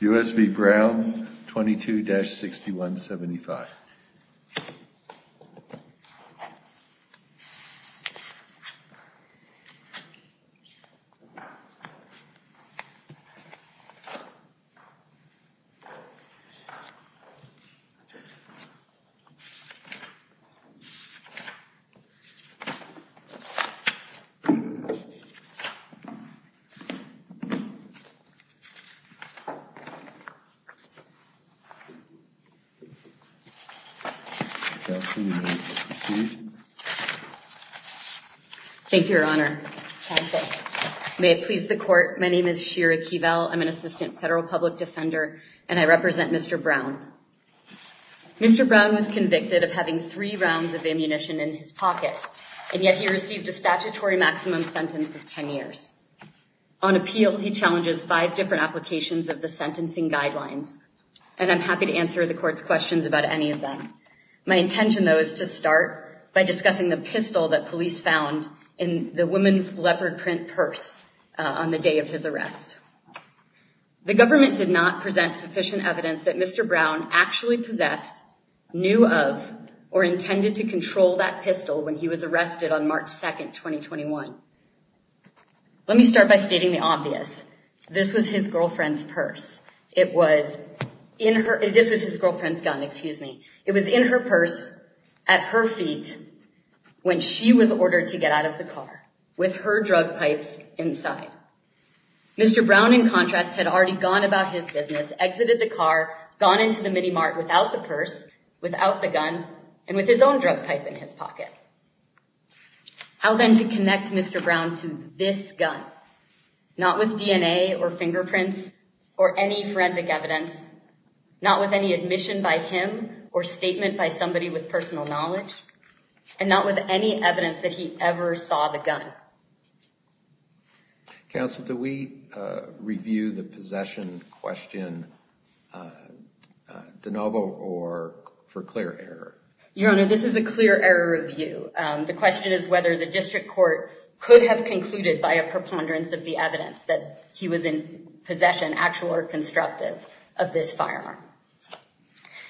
U.S. v. Brown 22-6175. May it please the court, my name is Shira Keevel, I'm an assistant federal public defender and I represent Mr. Brown. Mr. Brown was convicted of having three rounds of ammunition in his pocket, and yet he received a statutory maximum sentence of 10 years. On appeal, he challenges five different applications of the sentencing guidelines, and I'm happy to answer the court's questions about any of them. My intention, though, is to start by discussing the pistol that police found in the woman's leopard print purse on the day of his arrest. The government did not present sufficient evidence that Mr. Brown actually possessed, knew of, or intended to control that pistol when he was arrested on March 2nd, 2021. Let me start by stating the obvious. This was his girlfriend's purse. It was in her, this was his girlfriend's gun, excuse me. It was in her purse at her feet when she was ordered to get out of the car with her drug pipes inside. Mr. Brown, in contrast, had already gone about his business, exited the car, gone into the mini mart without the purse, without the gun, and with his own drug pipe in his pocket. How then to connect Mr. Brown to this gun, not with DNA or fingerprints or any forensic evidence, not with any admission by him or statement by somebody with personal knowledge, and not with any evidence that he ever saw the gun. Counsel, do we review the possession question de novo or for clear error? Your Honor, this is a clear error review. The question is whether the district court could have concluded by a preponderance of the evidence that he was in possession, actual or constructive, of this firearm.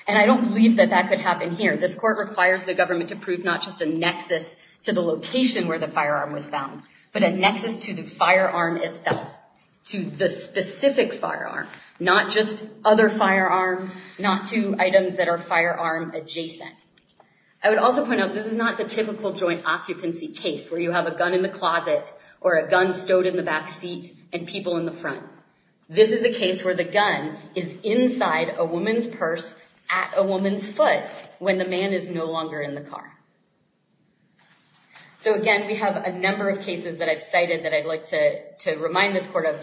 And I don't believe that that could happen here. This court requires the government to prove not just a nexus to the location where the gun was found, but a nexus to the firearm itself, to the specific firearm, not just other firearms, not to items that are firearm adjacent. I would also point out this is not the typical joint occupancy case where you have a gun in the closet or a gun stowed in the back seat and people in the front. This is a case where the gun is inside a woman's purse at a woman's foot when the man is no longer in the car. So again, we have a number of cases that I've cited that I'd like to remind this court of.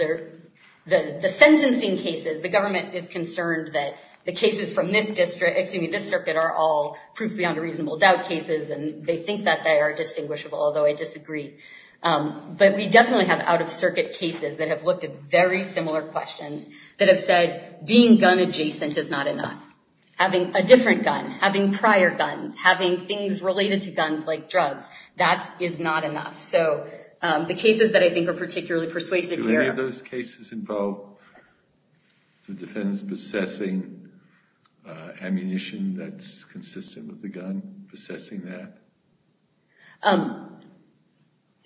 The sentencing cases, the government is concerned that the cases from this district, excuse me, this circuit, are all proof beyond a reasonable doubt cases, and they think that they are distinguishable, although I disagree. But we definitely have out-of-circuit cases that have looked at very similar questions that have said being gun adjacent is not enough. Having a different gun, having prior guns, having things related to guns like drugs, that is not enough. So the cases that I think are particularly persuasive here... Do any of those cases involve the defendants possessing ammunition that's consistent with the gun, possessing that?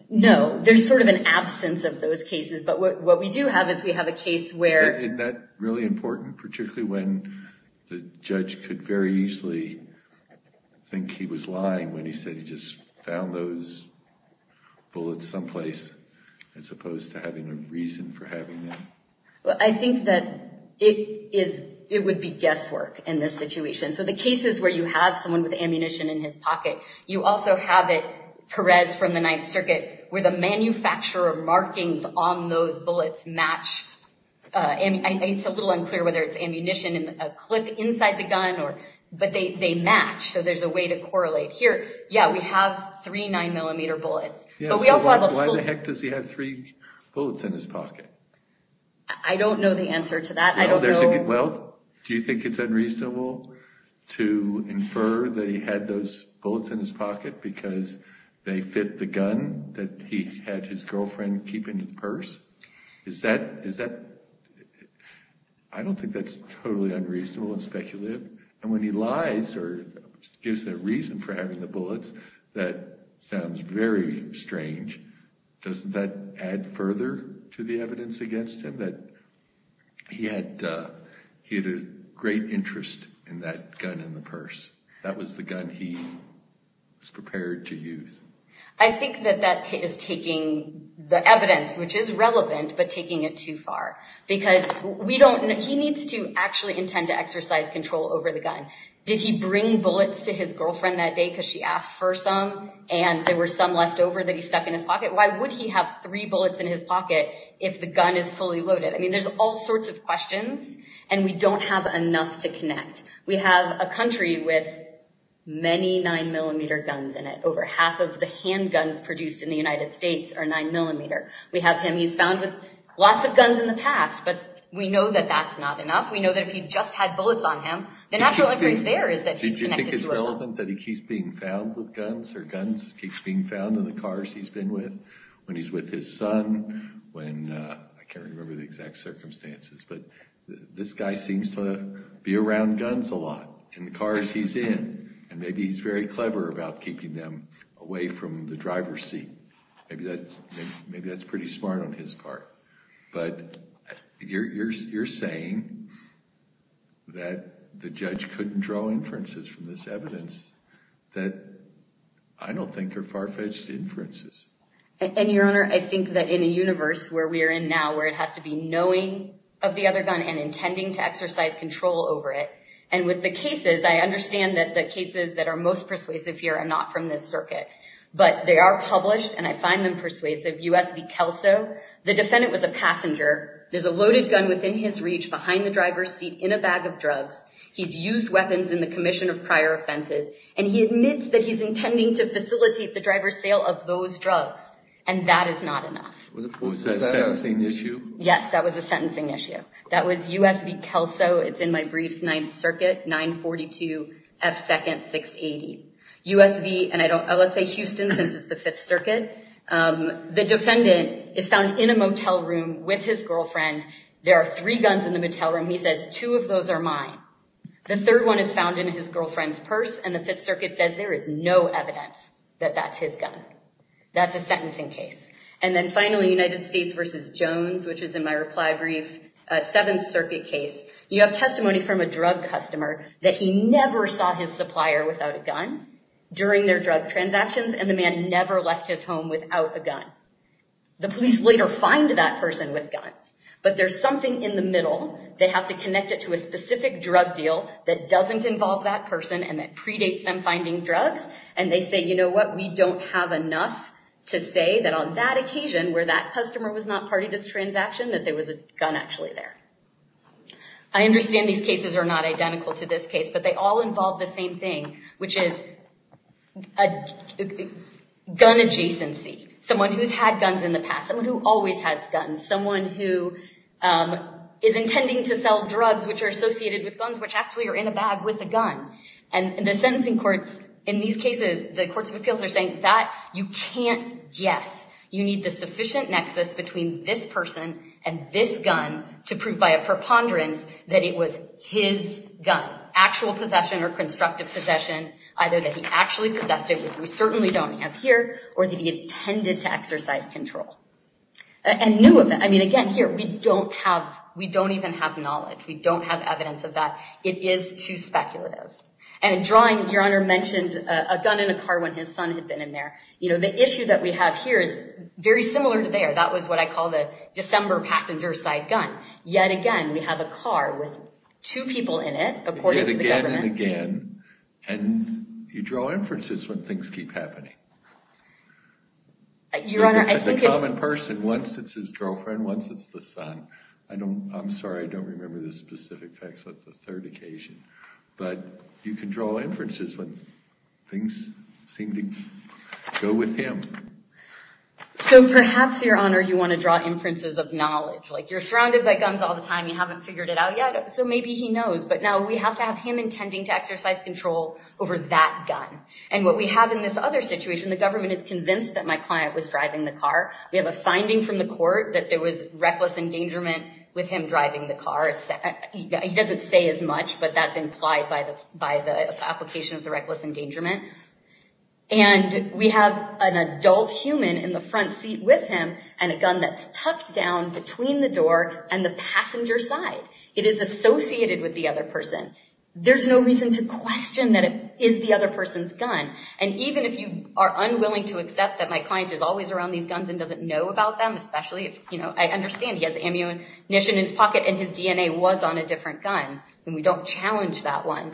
No. There's sort of an absence of those cases, but what we do have is we have a case where... Isn't that really important, particularly when the judge could very easily think he was lying when he said he just found those bullets someplace, as opposed to having a reason for having them? Well, I think that it would be guesswork in this situation. So the cases where you have someone with ammunition in his pocket, you also have it, Perez, from the Ninth Circuit, where the manufacturer markings on those bullets match. It's a little unclear whether it's ammunition in a clip inside the gun, but they match, so there's a way to correlate. Here, yeah, we have three 9mm bullets, but we also have a full... Yeah, so why the heck does he have three bullets in his pocket? I don't know the answer to that. Well, do you think it's unreasonable to infer that he had those bullets in his pocket because they fit the gun that he had his girlfriend keep in his purse? Is that... I don't think that's totally unreasonable and speculative. And when he lies or gives a reason for having the bullets, that sounds very strange. Doesn't that add further to the evidence against him that he had a great interest in that gun in the purse? That was the gun he was prepared to use. I think that that is taking the evidence, which is relevant, but taking it too far. Because we don't... He needs to actually intend to exercise control over the gun. Did he bring bullets to his girlfriend that day because she asked for some, and there were some left over that he stuck in his pocket? Why would he have three bullets in his pocket if the gun is fully loaded? I mean, there's all sorts of questions, and we don't have enough to connect. We have a country with many 9mm guns in it. Over half of the handguns produced in the United States are 9mm. We have him, he's found with lots of guns in the past, but we know that that's not enough. We know that if he just had bullets on him, the natural inference there is that he's connected to a gun. Do you think it's relevant that he keeps being found with guns or guns keeps being found in the cars he's been with? When he's with his son, when... I can't remember the exact circumstances, but this guy seems to be around guns a lot in the cars he's in, and maybe he's very clever about keeping them away from the driver's seat. Maybe that's pretty smart on his part. But you're saying that the judge couldn't draw inferences from this evidence that I don't think are far-fetched inferences. And, Your Honor, I think that in a universe where we are in now, where it has to be knowing of the other gun and intending to exercise control over it, and with the cases, I understand that the cases that are most persuasive here are not from this circuit, but they are published, and I find them persuasive. U.S. v. Kelso, the defendant was a passenger. There's a loaded gun within his reach behind the driver's seat in a bag of drugs. He's used weapons in the commission of prior offenses, and he admits that he's intending to facilitate the driver's sale of those drugs, and that is not enough. Was that a sentencing issue? Yes, that was a sentencing issue. That was U.S. v. Kelso. It's in my briefs, Ninth Circuit, 942 F. 2nd, 680. U.S. v., and let's say Houston, since it's the Fifth Circuit, the defendant is found in a motel room with his girlfriend. There are three guns in the motel room. He says, two of those are mine. The third one is found in his girlfriend's purse, and the Fifth Circuit says there is no evidence that that's his gun. That's a sentencing case. And then finally, United States v. Jones, which is in my reply brief, Seventh Circuit case. You have testimony from a drug customer that he never saw his supplier without a gun during their drug transactions, and the man never left his home without a gun. The police later find that person with guns, but there's something in the middle. They have to connect it to a specific drug deal that doesn't involve that person, and that predates them finding drugs, and they say, you know what, we don't have enough to say that on that occasion, where that customer was not part of the transaction, that there was a gun actually there. I understand these cases are not identical to this case, but they all involve the same thing, which is gun adjacency. Someone who's had guns in the past. Someone who always has guns. Someone who is intending to sell drugs which are associated with guns, which actually are in a bag with a gun. And the sentencing courts in these cases, the courts of appeals are saying that you can't guess. You need the sufficient nexus between this person and this gun to prove by a preponderance that it was his gun. Actual possession or constructive possession, either that he actually possessed it, which we certainly don't have here, or that he intended to exercise control. And new event, I mean, again, here, we don't have, we don't even have knowledge. We don't have evidence of that. It is too speculative. And in drawing, Your Honor mentioned a gun in a car when his son had been in there. You know, the issue that we have here is very similar to there. That was what I call the December passenger side gun. Yet again, we have a car with two people in it, according to the government. Yet again and again. And you draw inferences when things keep happening. Your Honor, I think it's... The common person, once it's his girlfriend, once it's the son. I'm sorry, I don't remember the specific text of the third occasion. But you can draw inferences when things seem to go with him. So perhaps, Your Honor, you want to draw inferences of knowledge. Like, you're surrounded by guns all the time. You haven't figured it out yet, so maybe he knows. But now we have to have him intending to exercise control over that gun. And what we have in this other situation, the government is convinced that my client was driving the car. We have a finding from the court that there was reckless endangerment with him driving the car. He doesn't say as much, but that's implied by the application of the reckless endangerment. And we have an adult human in the front seat with him and a gun that's tucked down between the door and the passenger side. It is associated with the other person. There's no reason to question that it is the other person's gun. And even if you are unwilling to accept that my client is always around these guns and doesn't know about them, especially if, you know, I understand he has ammunition in his pocket and his DNA was on a different gun, then we don't challenge that one.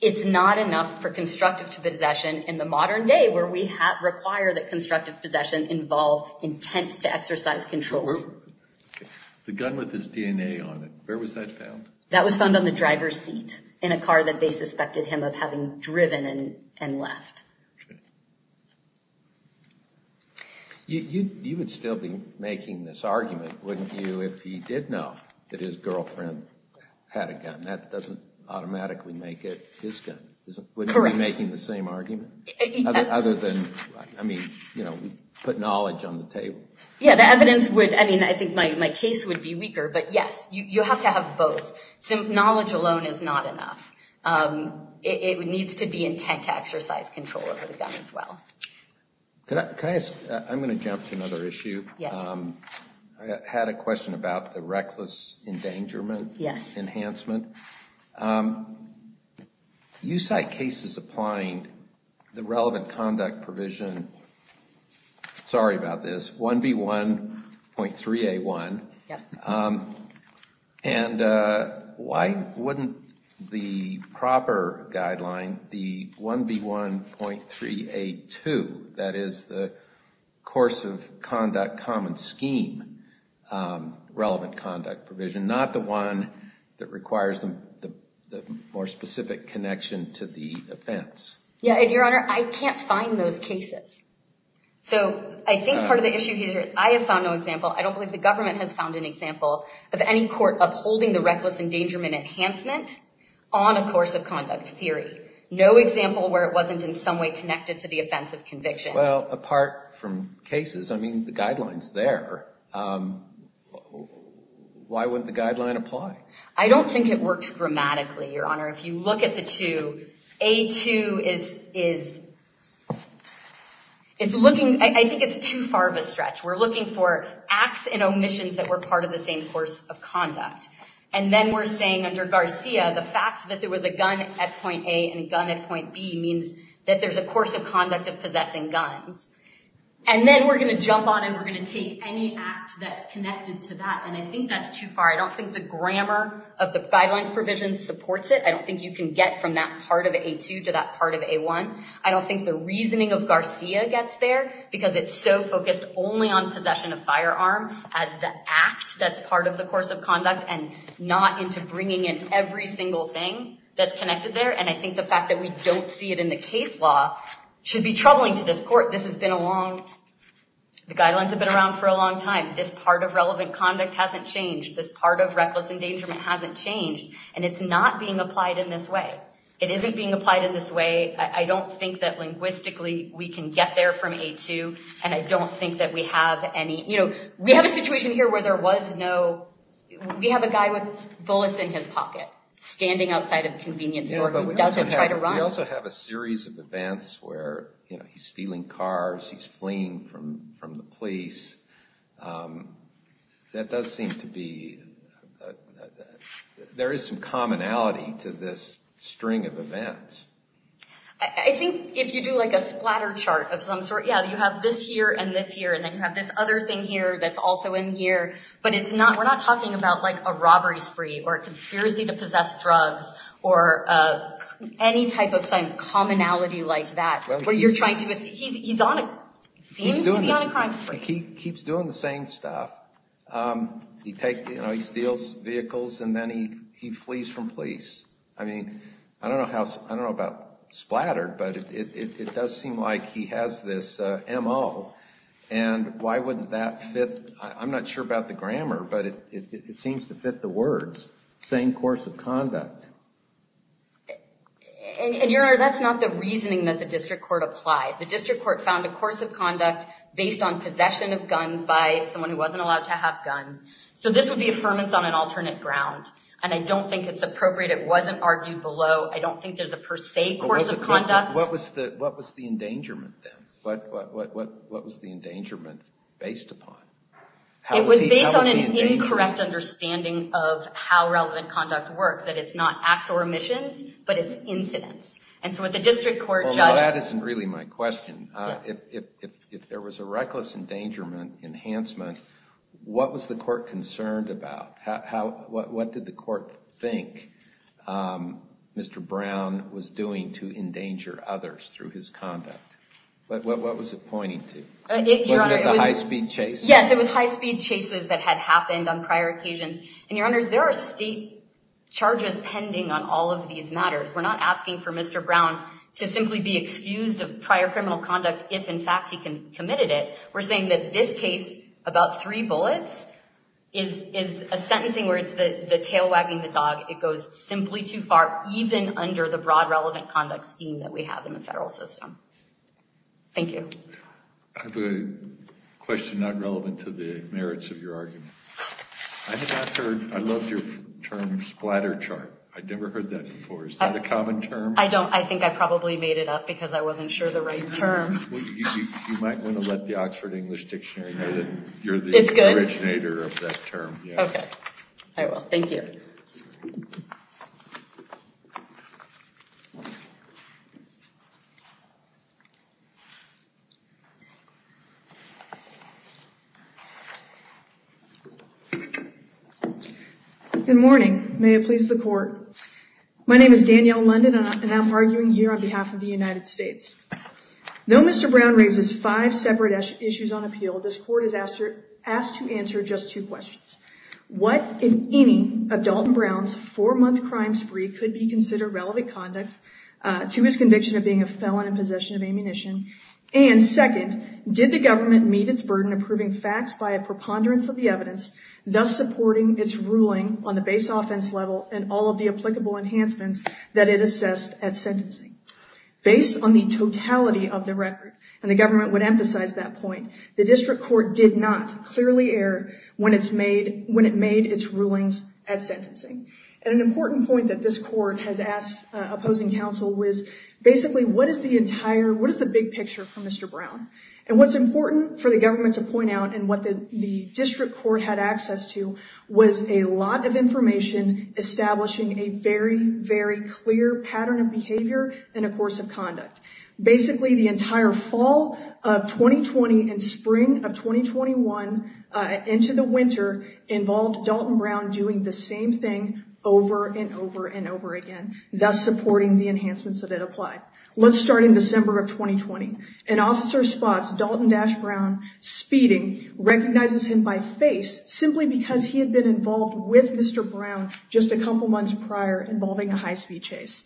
It's not enough for constructive possession in the modern day where we require that constructive possession involve intent to exercise control. The gun with his DNA on it, where was that found? That was found on the driver's seat in a car that they suspected him of having driven and left. You would still be making this argument, wouldn't you, if he did know that his girlfriend had a gun? That doesn't automatically make it his gun. Correct. Wouldn't you be making the same argument? Other than, I mean, you know, we put knowledge on the table. Yeah, the evidence would, I mean, I think my case would be weaker, but yes, you have to have both. Knowledge alone is not enough. It needs to be intent to exercise control over the gun as well. Can I ask, I'm going to jump to another issue. Yes. I had a question about the reckless endangerment. Yes. Enhancement. You cite cases applying the relevant conduct provision, sorry about this, 1B1.3A1, and why wouldn't the proper guideline, the 1B1.3A2, that is the course of conduct common scheme relevant conduct provision, not the one that requires the more specific connection to the offense? Yeah, and Your Honor, I can't find those cases. So I think part of the issue here is I have found no example, I don't believe the government has found an example of any court upholding the reckless endangerment enhancement on a course of conduct theory. No example where it wasn't in some way connected to the offense of conviction. Well, apart from cases, I mean, the guideline's there. Why wouldn't the guideline apply? I don't think it works grammatically, Your Honor. If you look at the two, A2 is, it's looking, I think it's too far of a stretch. We're looking for acts and omissions that were part of the same course of conduct. And then we're saying under Garcia, the fact that there was a gun at point A and a gun at point B means that there's a course of conduct of possessing guns. And then we're going to jump on and we're going to take any act that's connected to that, and I think that's too far. I don't think the grammar of the guidelines provision supports it. I don't think you can get from that part of A2 to that part of A1. I don't think the reasoning of Garcia gets there because it's so focused only on possession of firearm as the act that's part of the course of conduct and not into bringing in every single thing that's connected there. And I think the fact that we don't see it in the case law should be troubling to this court. This has been a long, the guidelines have been around for a long time. This part of relevant conduct hasn't changed. This part of reckless endangerment hasn't changed, and it's not being applied in this way. It isn't being applied in this way. I don't think that linguistically we can get there from A2, and I don't think that we have any, you know, we have a situation here where there was no, we have a guy with bullets in his pocket standing outside a convenience store who doesn't try to run. We also have a series of events where he's stealing cars, he's fleeing from the police. That does seem to be, there is some commonality to this string of events. I think if you do like a splatter chart of some sort, yeah, you have this here and this here, and then you have this other thing here that's also in here, but it's not, we're not talking about like a robbery spree or a conspiracy to possess drugs or any type of commonality like that where you're trying to, he's on a, seems to be on a crime spree. He keeps doing the same stuff. He takes, you know, he steals vehicles and then he flees from police. I mean, I don't know about splattered, but it does seem like he has this M.O. and why wouldn't that fit, I'm not sure about the grammar, but it seems to fit the words, same course of conduct. And, Your Honor, that's not the reasoning that the district court applied. The district court found a course of conduct based on possession of guns by someone who wasn't allowed to have guns. So this would be affirmance on an alternate ground, and I don't think it's appropriate. It wasn't argued below. I don't think there's a per se course of conduct. What was the endangerment then? What was the endangerment based upon? It was based on an incorrect understanding of how relevant conduct works, that it's not acts or omissions, but it's incidents. Well, that isn't really my question. If there was a reckless endangerment enhancement, what was the court concerned about? What did the court think Mr. Brown was doing to endanger others through his conduct? What was it pointing to? Wasn't it the high-speed chases? Yes, it was high-speed chases that had happened on prior occasions. And, Your Honors, there are state charges pending on all of these matters. We're not asking for Mr. Brown to simply be excused of prior criminal conduct if, in fact, he committed it. We're saying that this case, about three bullets, is a sentencing where it's the tail wagging the dog. It goes simply too far, even under the broad relevant conduct scheme that we have in the federal system. Thank you. I have a question not relevant to the merits of your argument. I loved your term, splatter chart. I'd never heard that before. Is that a common term? I think I probably made it up because I wasn't sure the right term. You might want to let the Oxford English Dictionary know that you're the originator of that term. Okay. I will. Good morning. May it please the Court. My name is Danielle London, and I'm arguing here on behalf of the United States. Though Mr. Brown raises five separate issues on appeal, this Court is asked to answer just two questions. What, in any, of Dalton Brown's four-month crime spree could be considered relevant conduct to his conviction of being a felon in possession of ammunition? And, second, did the government meet its burden approving facts by a preponderance of the evidence, thus supporting its ruling on the base offense level and all of the applicable enhancements that it assessed at sentencing? Based on the totality of the record, and the government would emphasize that point, the District Court did not clearly err when it made its rulings at sentencing. And an important point that this Court has asked opposing counsel was, basically, what is the big picture for Mr. Brown? And what's important for the government to point out, and what the District Court had access to, was a lot of information establishing a very, very clear pattern of behavior and a course of conduct. Basically, the entire fall of 2020 and spring of 2021 into the winter involved Dalton Brown doing the same thing over and over and over again, thus supporting the enhancements that it applied. Let's start in December of 2020. An officer spots Dalton Dash Brown speeding, recognizes him by face, simply because he had been involved with Mr. Brown just a couple months prior involving a high-speed chase.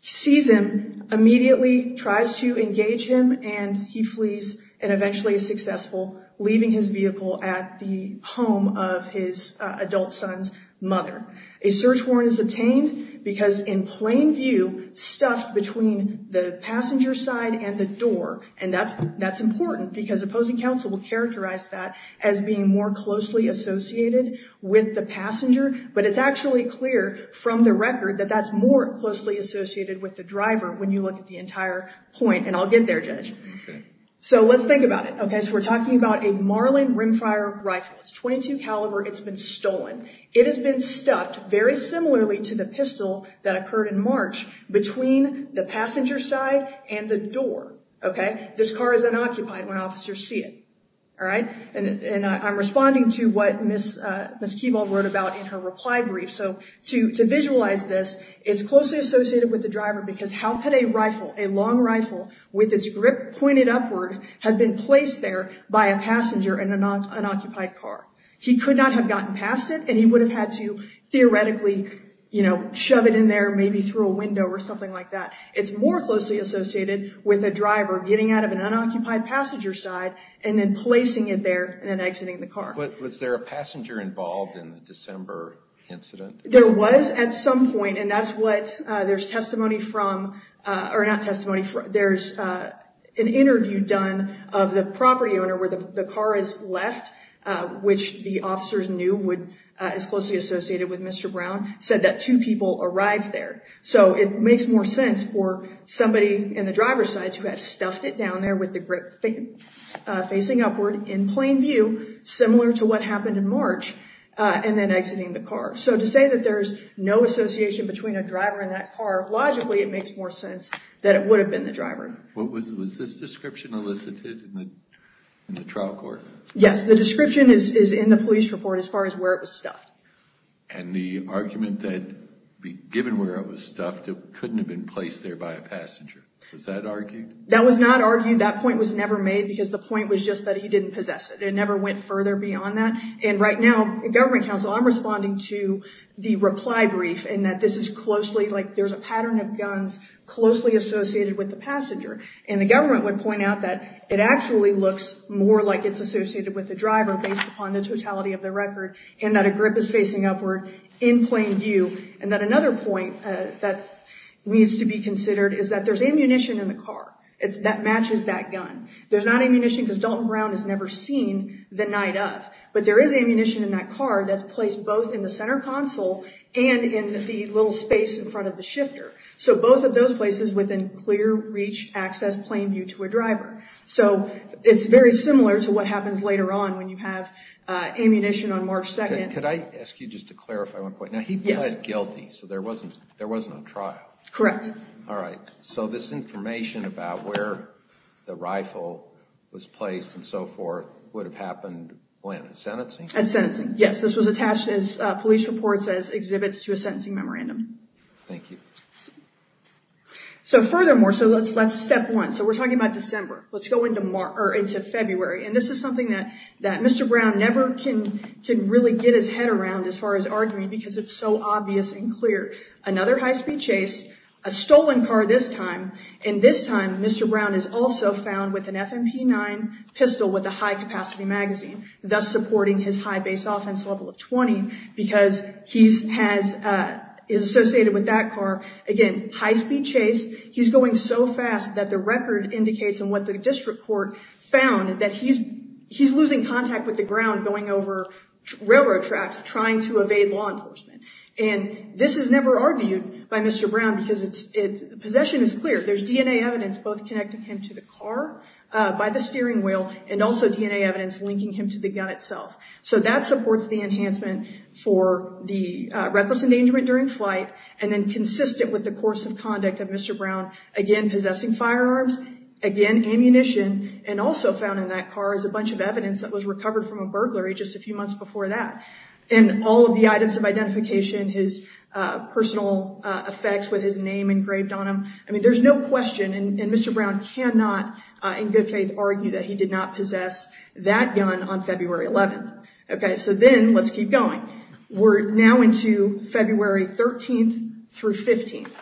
He sees him, immediately tries to engage him, and he flees, and eventually is successful, leaving his vehicle at the home of his adult son's mother. A search warrant is obtained because, in plain view, stuffed between the passenger side and the door. And that's important because opposing counsel will characterize that as being more closely associated with the passenger. But it's actually clear from the record that that's more closely associated with the driver when you look at the entire point. And I'll get there, Judge. So let's think about it. So we're talking about a Marlin Rimfire rifle. It's .22 caliber. It's been stolen. It has been stuffed very similarly to the pistol that occurred in March between the passenger side and the door. This car is unoccupied when officers see it. And I'm responding to what Ms. Keeball wrote about in her reply brief. So to visualize this, it's closely associated with the driver because how could a rifle, a long rifle, with its grip pointed upward, have been placed there by a passenger in an unoccupied car? He could not have gotten past it, and he would have had to theoretically, you know, shove it in there maybe through a window or something like that. It's more closely associated with a driver getting out of an unoccupied passenger side and then placing it there and then exiting the car. But was there a passenger involved in the December incident? There was at some point, and that's what there's testimony from, or not testimony from, there's an interview done of the property owner where the car is left, which the officers knew is closely associated with Mr. Brown, said that two people arrived there. So it makes more sense for somebody in the driver's side to have stuffed it down there with the grip facing upward in plain view, similar to what happened in March, and then exiting the car. So to say that there's no association between a driver and that car, logically it makes more sense that it would have been the driver. Was this description elicited in the trial court? Yes, the description is in the police report as far as where it was stuffed. And the argument that given where it was stuffed, it couldn't have been placed there by a passenger, was that argued? That was not argued. That point was never made because the point was just that he didn't possess it. It never went further beyond that. And right now, the government counsel, I'm responding to the reply brief and that this is closely, like there's a pattern of guns closely associated with the passenger. And the government would point out that it actually looks more like it's associated with the driver based upon the totality of the record and that a grip is facing upward in plain view. And that another point that needs to be considered is that there's ammunition in the car that matches that gun. There's not ammunition because Dalton Brown has never seen the night of. But there is ammunition in that car that's placed both in the center console and in the little space in front of the shifter. So both of those places within clear reach access plain view to a driver. So it's very similar to what happens later on when you have ammunition on March 2nd. Could I ask you just to clarify one point? Now he pled guilty, so there wasn't a trial. Correct. All right. So this information about where the rifle was placed and so forth would have happened when? Sentencing? At sentencing, yes. This was attached as police reports as exhibits to a sentencing memorandum. Thank you. So furthermore, so let's step one. So we're talking about December. Let's go into February. And this is something that Mr. Brown never can really get his head around as far as arguing because it's so obvious and clear. Another high-speed chase, a stolen car this time, and this time Mr. Brown is also found with an FMP9 pistol with a high-capacity magazine, thus supporting his high base offense level of 20 because he is associated with that car. Again, high-speed chase. He's going so fast that the record indicates, and what the district court found, that he's losing contact with the ground going over railroad tracks trying to evade law enforcement. And this is never argued by Mr. Brown because possession is clear. There's DNA evidence both connecting him to the car by the steering wheel and also DNA evidence linking him to the gun itself. So that supports the enhancement for the reckless endangerment during flight and then consistent with the course of conduct of Mr. Brown, again, possessing firearms, again, ammunition, and also found in that car is a bunch of evidence that was recovered from a burglary just a few months before that. And all of the items of identification, his personal effects with his name engraved on them, I mean, there's no question, and Mr. Brown cannot in good faith argue that he did not possess that gun on February 11th. Okay, so then let's keep going. We're now into February 13th through 15th.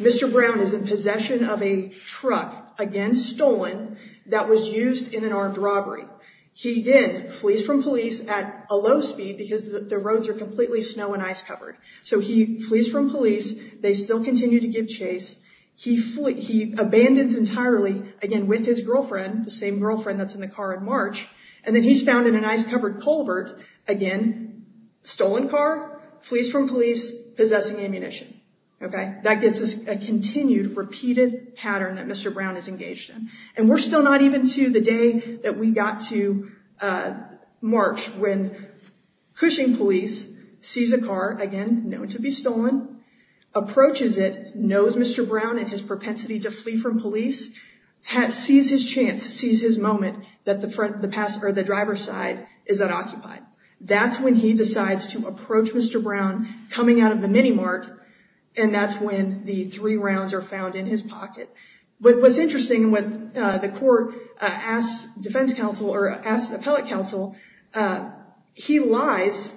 Mr. Brown is in possession of a truck, again, stolen that was used in an armed robbery. He then flees from police at a low speed because the roads are completely snow and ice covered. So he flees from police. They still continue to give chase. He abandons entirely, again, with his girlfriend, the same girlfriend that's in the car in March, and then he's found in an ice-covered culvert, again, stolen car, flees from police, possessing ammunition. Okay, that gives us a continued, repeated pattern that Mr. Brown is engaged in. And we're still not even to the day that we got to March when Cushing police sees a car, again, known to be stolen, approaches it, knows Mr. Brown and his propensity to flee from police, sees his chance, sees his moment, that the driver's side is unoccupied. That's when he decides to approach Mr. Brown, coming out of the mini-mart, and that's when the three rounds are found in his pocket. But what's interesting, when the court asked defense counsel, or asked appellate counsel, he lies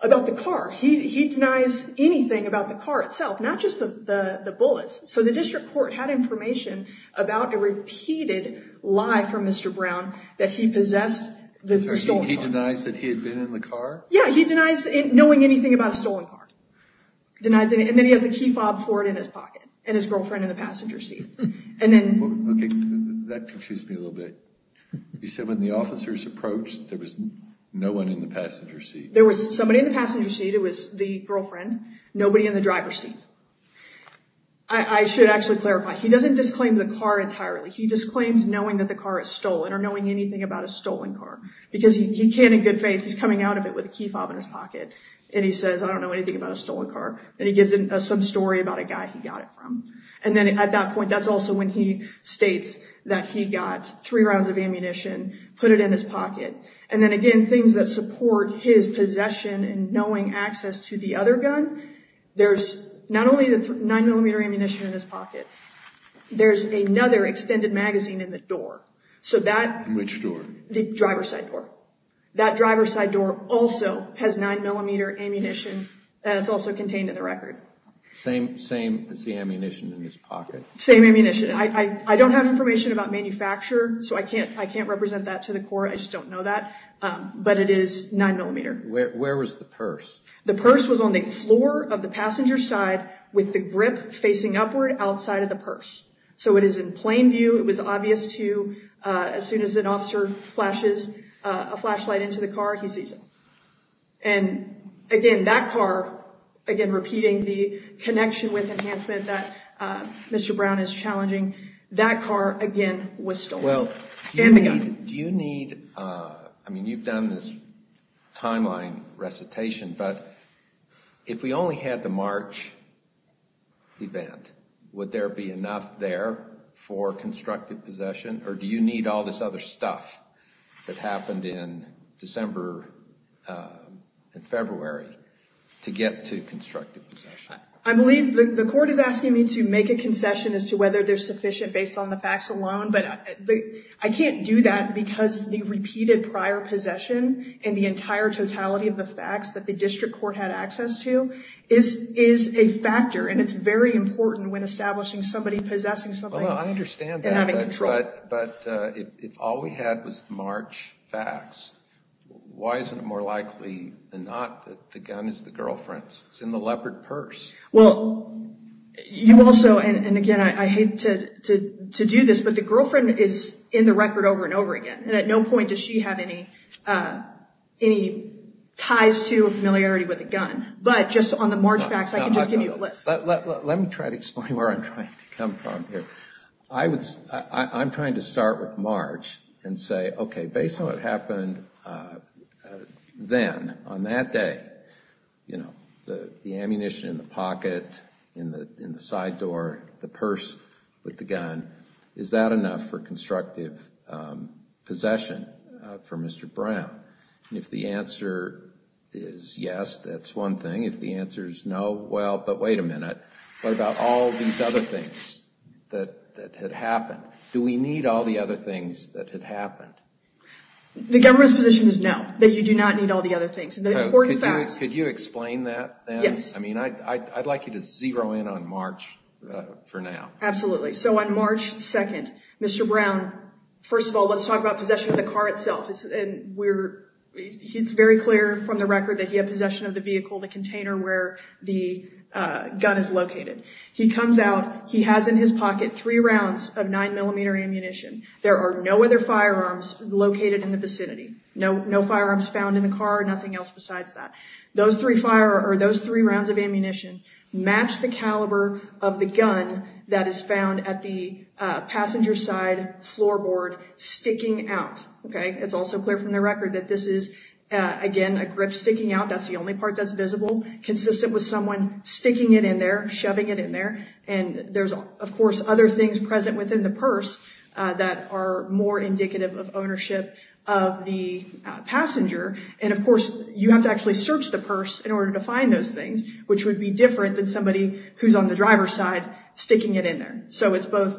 about the car. He denies anything about the car itself, not just the bullets. So the district court had information about a repeated lie from Mr. Brown that he possessed the stolen car. He denies that he had been in the car? Yeah, he denies knowing anything about a stolen car. And then he has a key fob for it in his pocket, and his girlfriend in the passenger seat. Okay, that confused me a little bit. You said when the officers approached, there was no one in the passenger seat. There was somebody in the passenger seat, it was the girlfriend, nobody in the driver's seat. I should actually clarify, he doesn't disclaim the car entirely. He disclaims knowing that the car is stolen, or knowing anything about a stolen car. Because he can, in good faith, he's coming out of it with a key fob in his pocket, and he says, I don't know anything about a stolen car. And he gives some story about a guy he got it from. And then at that point, that's also when he states that he got three rounds of ammunition, put it in his pocket. And then again, things that support his possession and knowing access to the other gun, there's not only the 9mm ammunition in his pocket, there's another extended magazine in the door. So that... Which door? The driver's side door. That driver's side door also has 9mm ammunition, and it's also contained in the record. Same as the ammunition in his pocket? Same ammunition. I don't have information about manufacture, so I can't represent that to the court, I just don't know that. But it is 9mm. Where was the purse? The purse was on the floor of the passenger's side with the grip facing upward outside of the purse. So it is in plain view. It was obvious to... As soon as an officer flashes a flashlight into the car, he sees it. And again, that car... Again, repeating the connection with enhancement that Mr. Brown is challenging, that car, again, was stolen. And the gun. Do you need... I mean, you've done this timeline recitation, but if we only had the March event, would there be enough there for constructive possession, or do you need all this other stuff that happened in December and February to get to constructive possession? I believe the court is asking me to make a concession as to whether they're sufficient based on the facts alone, but I can't do that because the repeated prior possession and the entire totality of the facts that the district court had access to is a factor, and it's very important when establishing somebody possessing something and having control. Well, I understand that, but if all we had was March facts, why isn't it more likely than not that the gun is the girlfriend's? It's in the leopard purse. Well, you also... And again, I hate to do this, but the girlfriend is in the record over and over again, and at no point does she have any ties to or familiarity with a gun, but just on the March facts, I can just give you a list. Let me try to explain where I'm trying to come from here. I'm trying to start with March and say, okay, based on what happened then, on that day, the ammunition in the pocket, in the side door, the purse with the gun, is that enough for constructive possession for Mr. Brown? And if the answer is yes, that's one thing. If the answer is no, well, but wait a minute. What about all these other things that had happened? Do we need all the other things that had happened? The government's position is no, that you do not need all the other things. Could you explain that then? Yes. I mean, I'd like you to zero in on March for now. Absolutely. So on March 2nd, Mr. Brown, first of all, let's talk about possession of the car itself. It's very clear from the record that he had possession of the vehicle, the container where the gun is located. He comes out. He has in his pocket three rounds of 9mm ammunition. There are no other firearms located in the vicinity, no firearms found in the car, nothing else besides that. Those three rounds of ammunition match the caliber of the gun that is found at the passenger side floorboard sticking out. It's also clear from the record that this is, again, a grip sticking out. That's the only part that's visible, consistent with someone sticking it in there, shoving it in there. And there's, of course, other things present within the purse that are more indicative of ownership of the passenger. And, of course, you have to actually search the purse in order to find those things, which would be different than somebody who's on the driver's side sticking it in there. So it's both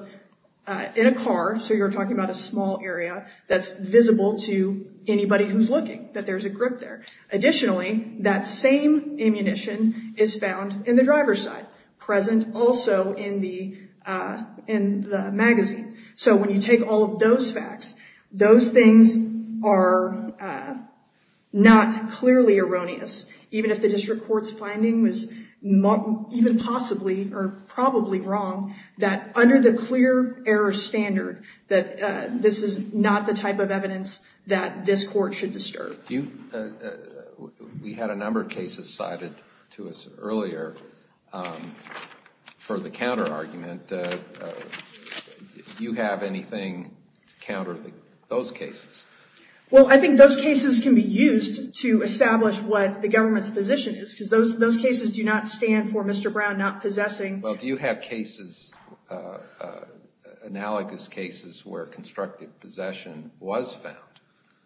in a car, so you're talking about a small area that's visible to anybody who's looking, that there's a grip there. Additionally, that same ammunition is found in the driver's side, present also in the magazine. So when you take all of those facts, those things are not clearly erroneous, even if the district court's finding was even possibly or probably wrong, that under the clear error standard, that this is not the type of evidence that this court should disturb. We had a number of cases cited to us earlier for the counterargument. Do you have anything to counter those cases? Well, I think those cases can be used to establish what the government's position is, because those cases do not stand for Mr. Brown not possessing. Well, do you have analogous cases where constructive possession was found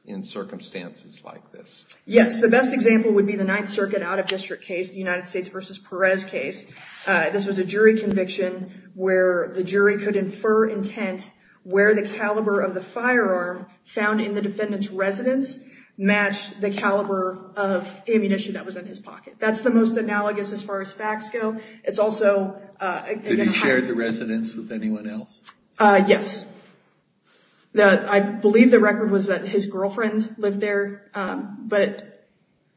in circumstances like this? Yes. The best example would be the Ninth Circuit out-of-district case, the United States v. Perez case. This was a jury conviction where the jury could infer intent where the caliber of the firearm found in the defendant's residence matched the caliber of ammunition that was in his pocket. That's the most analogous as far as facts go. Did he share the residence with anyone else? Yes. I believe the record was that his girlfriend lived there, but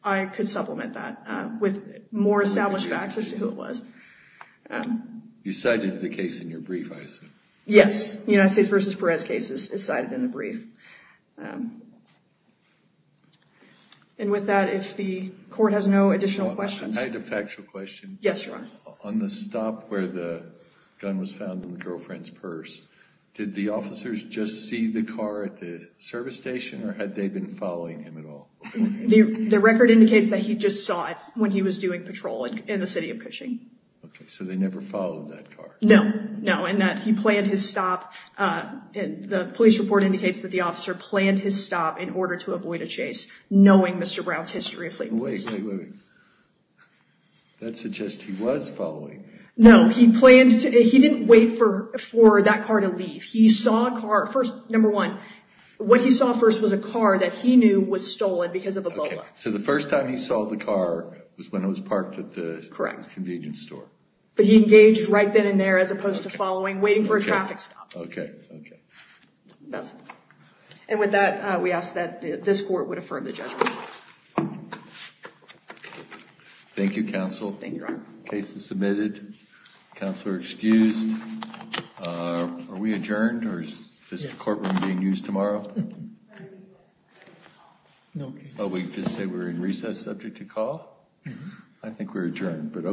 I could supplement that with more established facts as to who it was. You cited the case in your brief, I assume. Yes. The United States v. Perez case is cited in the brief. And with that, if the court has no additional questions. I had a factual question. Yes, Your Honor. On the stop where the gun was found in the girlfriend's purse, did the officers just see the car at the service station or had they been following him at all? The record indicates that he just saw it when he was doing patrol in the city of Cushing. Okay. So they never followed that car? No. No. And that he planned his stop. The police report indicates that the officer planned his stop in order to avoid a chase, knowing Mr. Brown's history of fleet police. Wait, wait, wait. That suggests he was following. No. He didn't wait for that car to leave. First, number one, what he saw first was a car that he knew was stolen because of a bullock. So the first time he saw the car was when it was parked at the convenience store. Correct. But he engaged right then and there as opposed to following, waiting for a traffic stop. Okay. Okay. That's it. And with that, we ask that this court would affirm the judgment. Thank you, counsel. Thank you, Your Honor. Case is submitted. Counselor excused. Are we adjourned or is this courtroom being used tomorrow? Oh, we just say we're in recess subject to call? I think we're adjourned, but okay.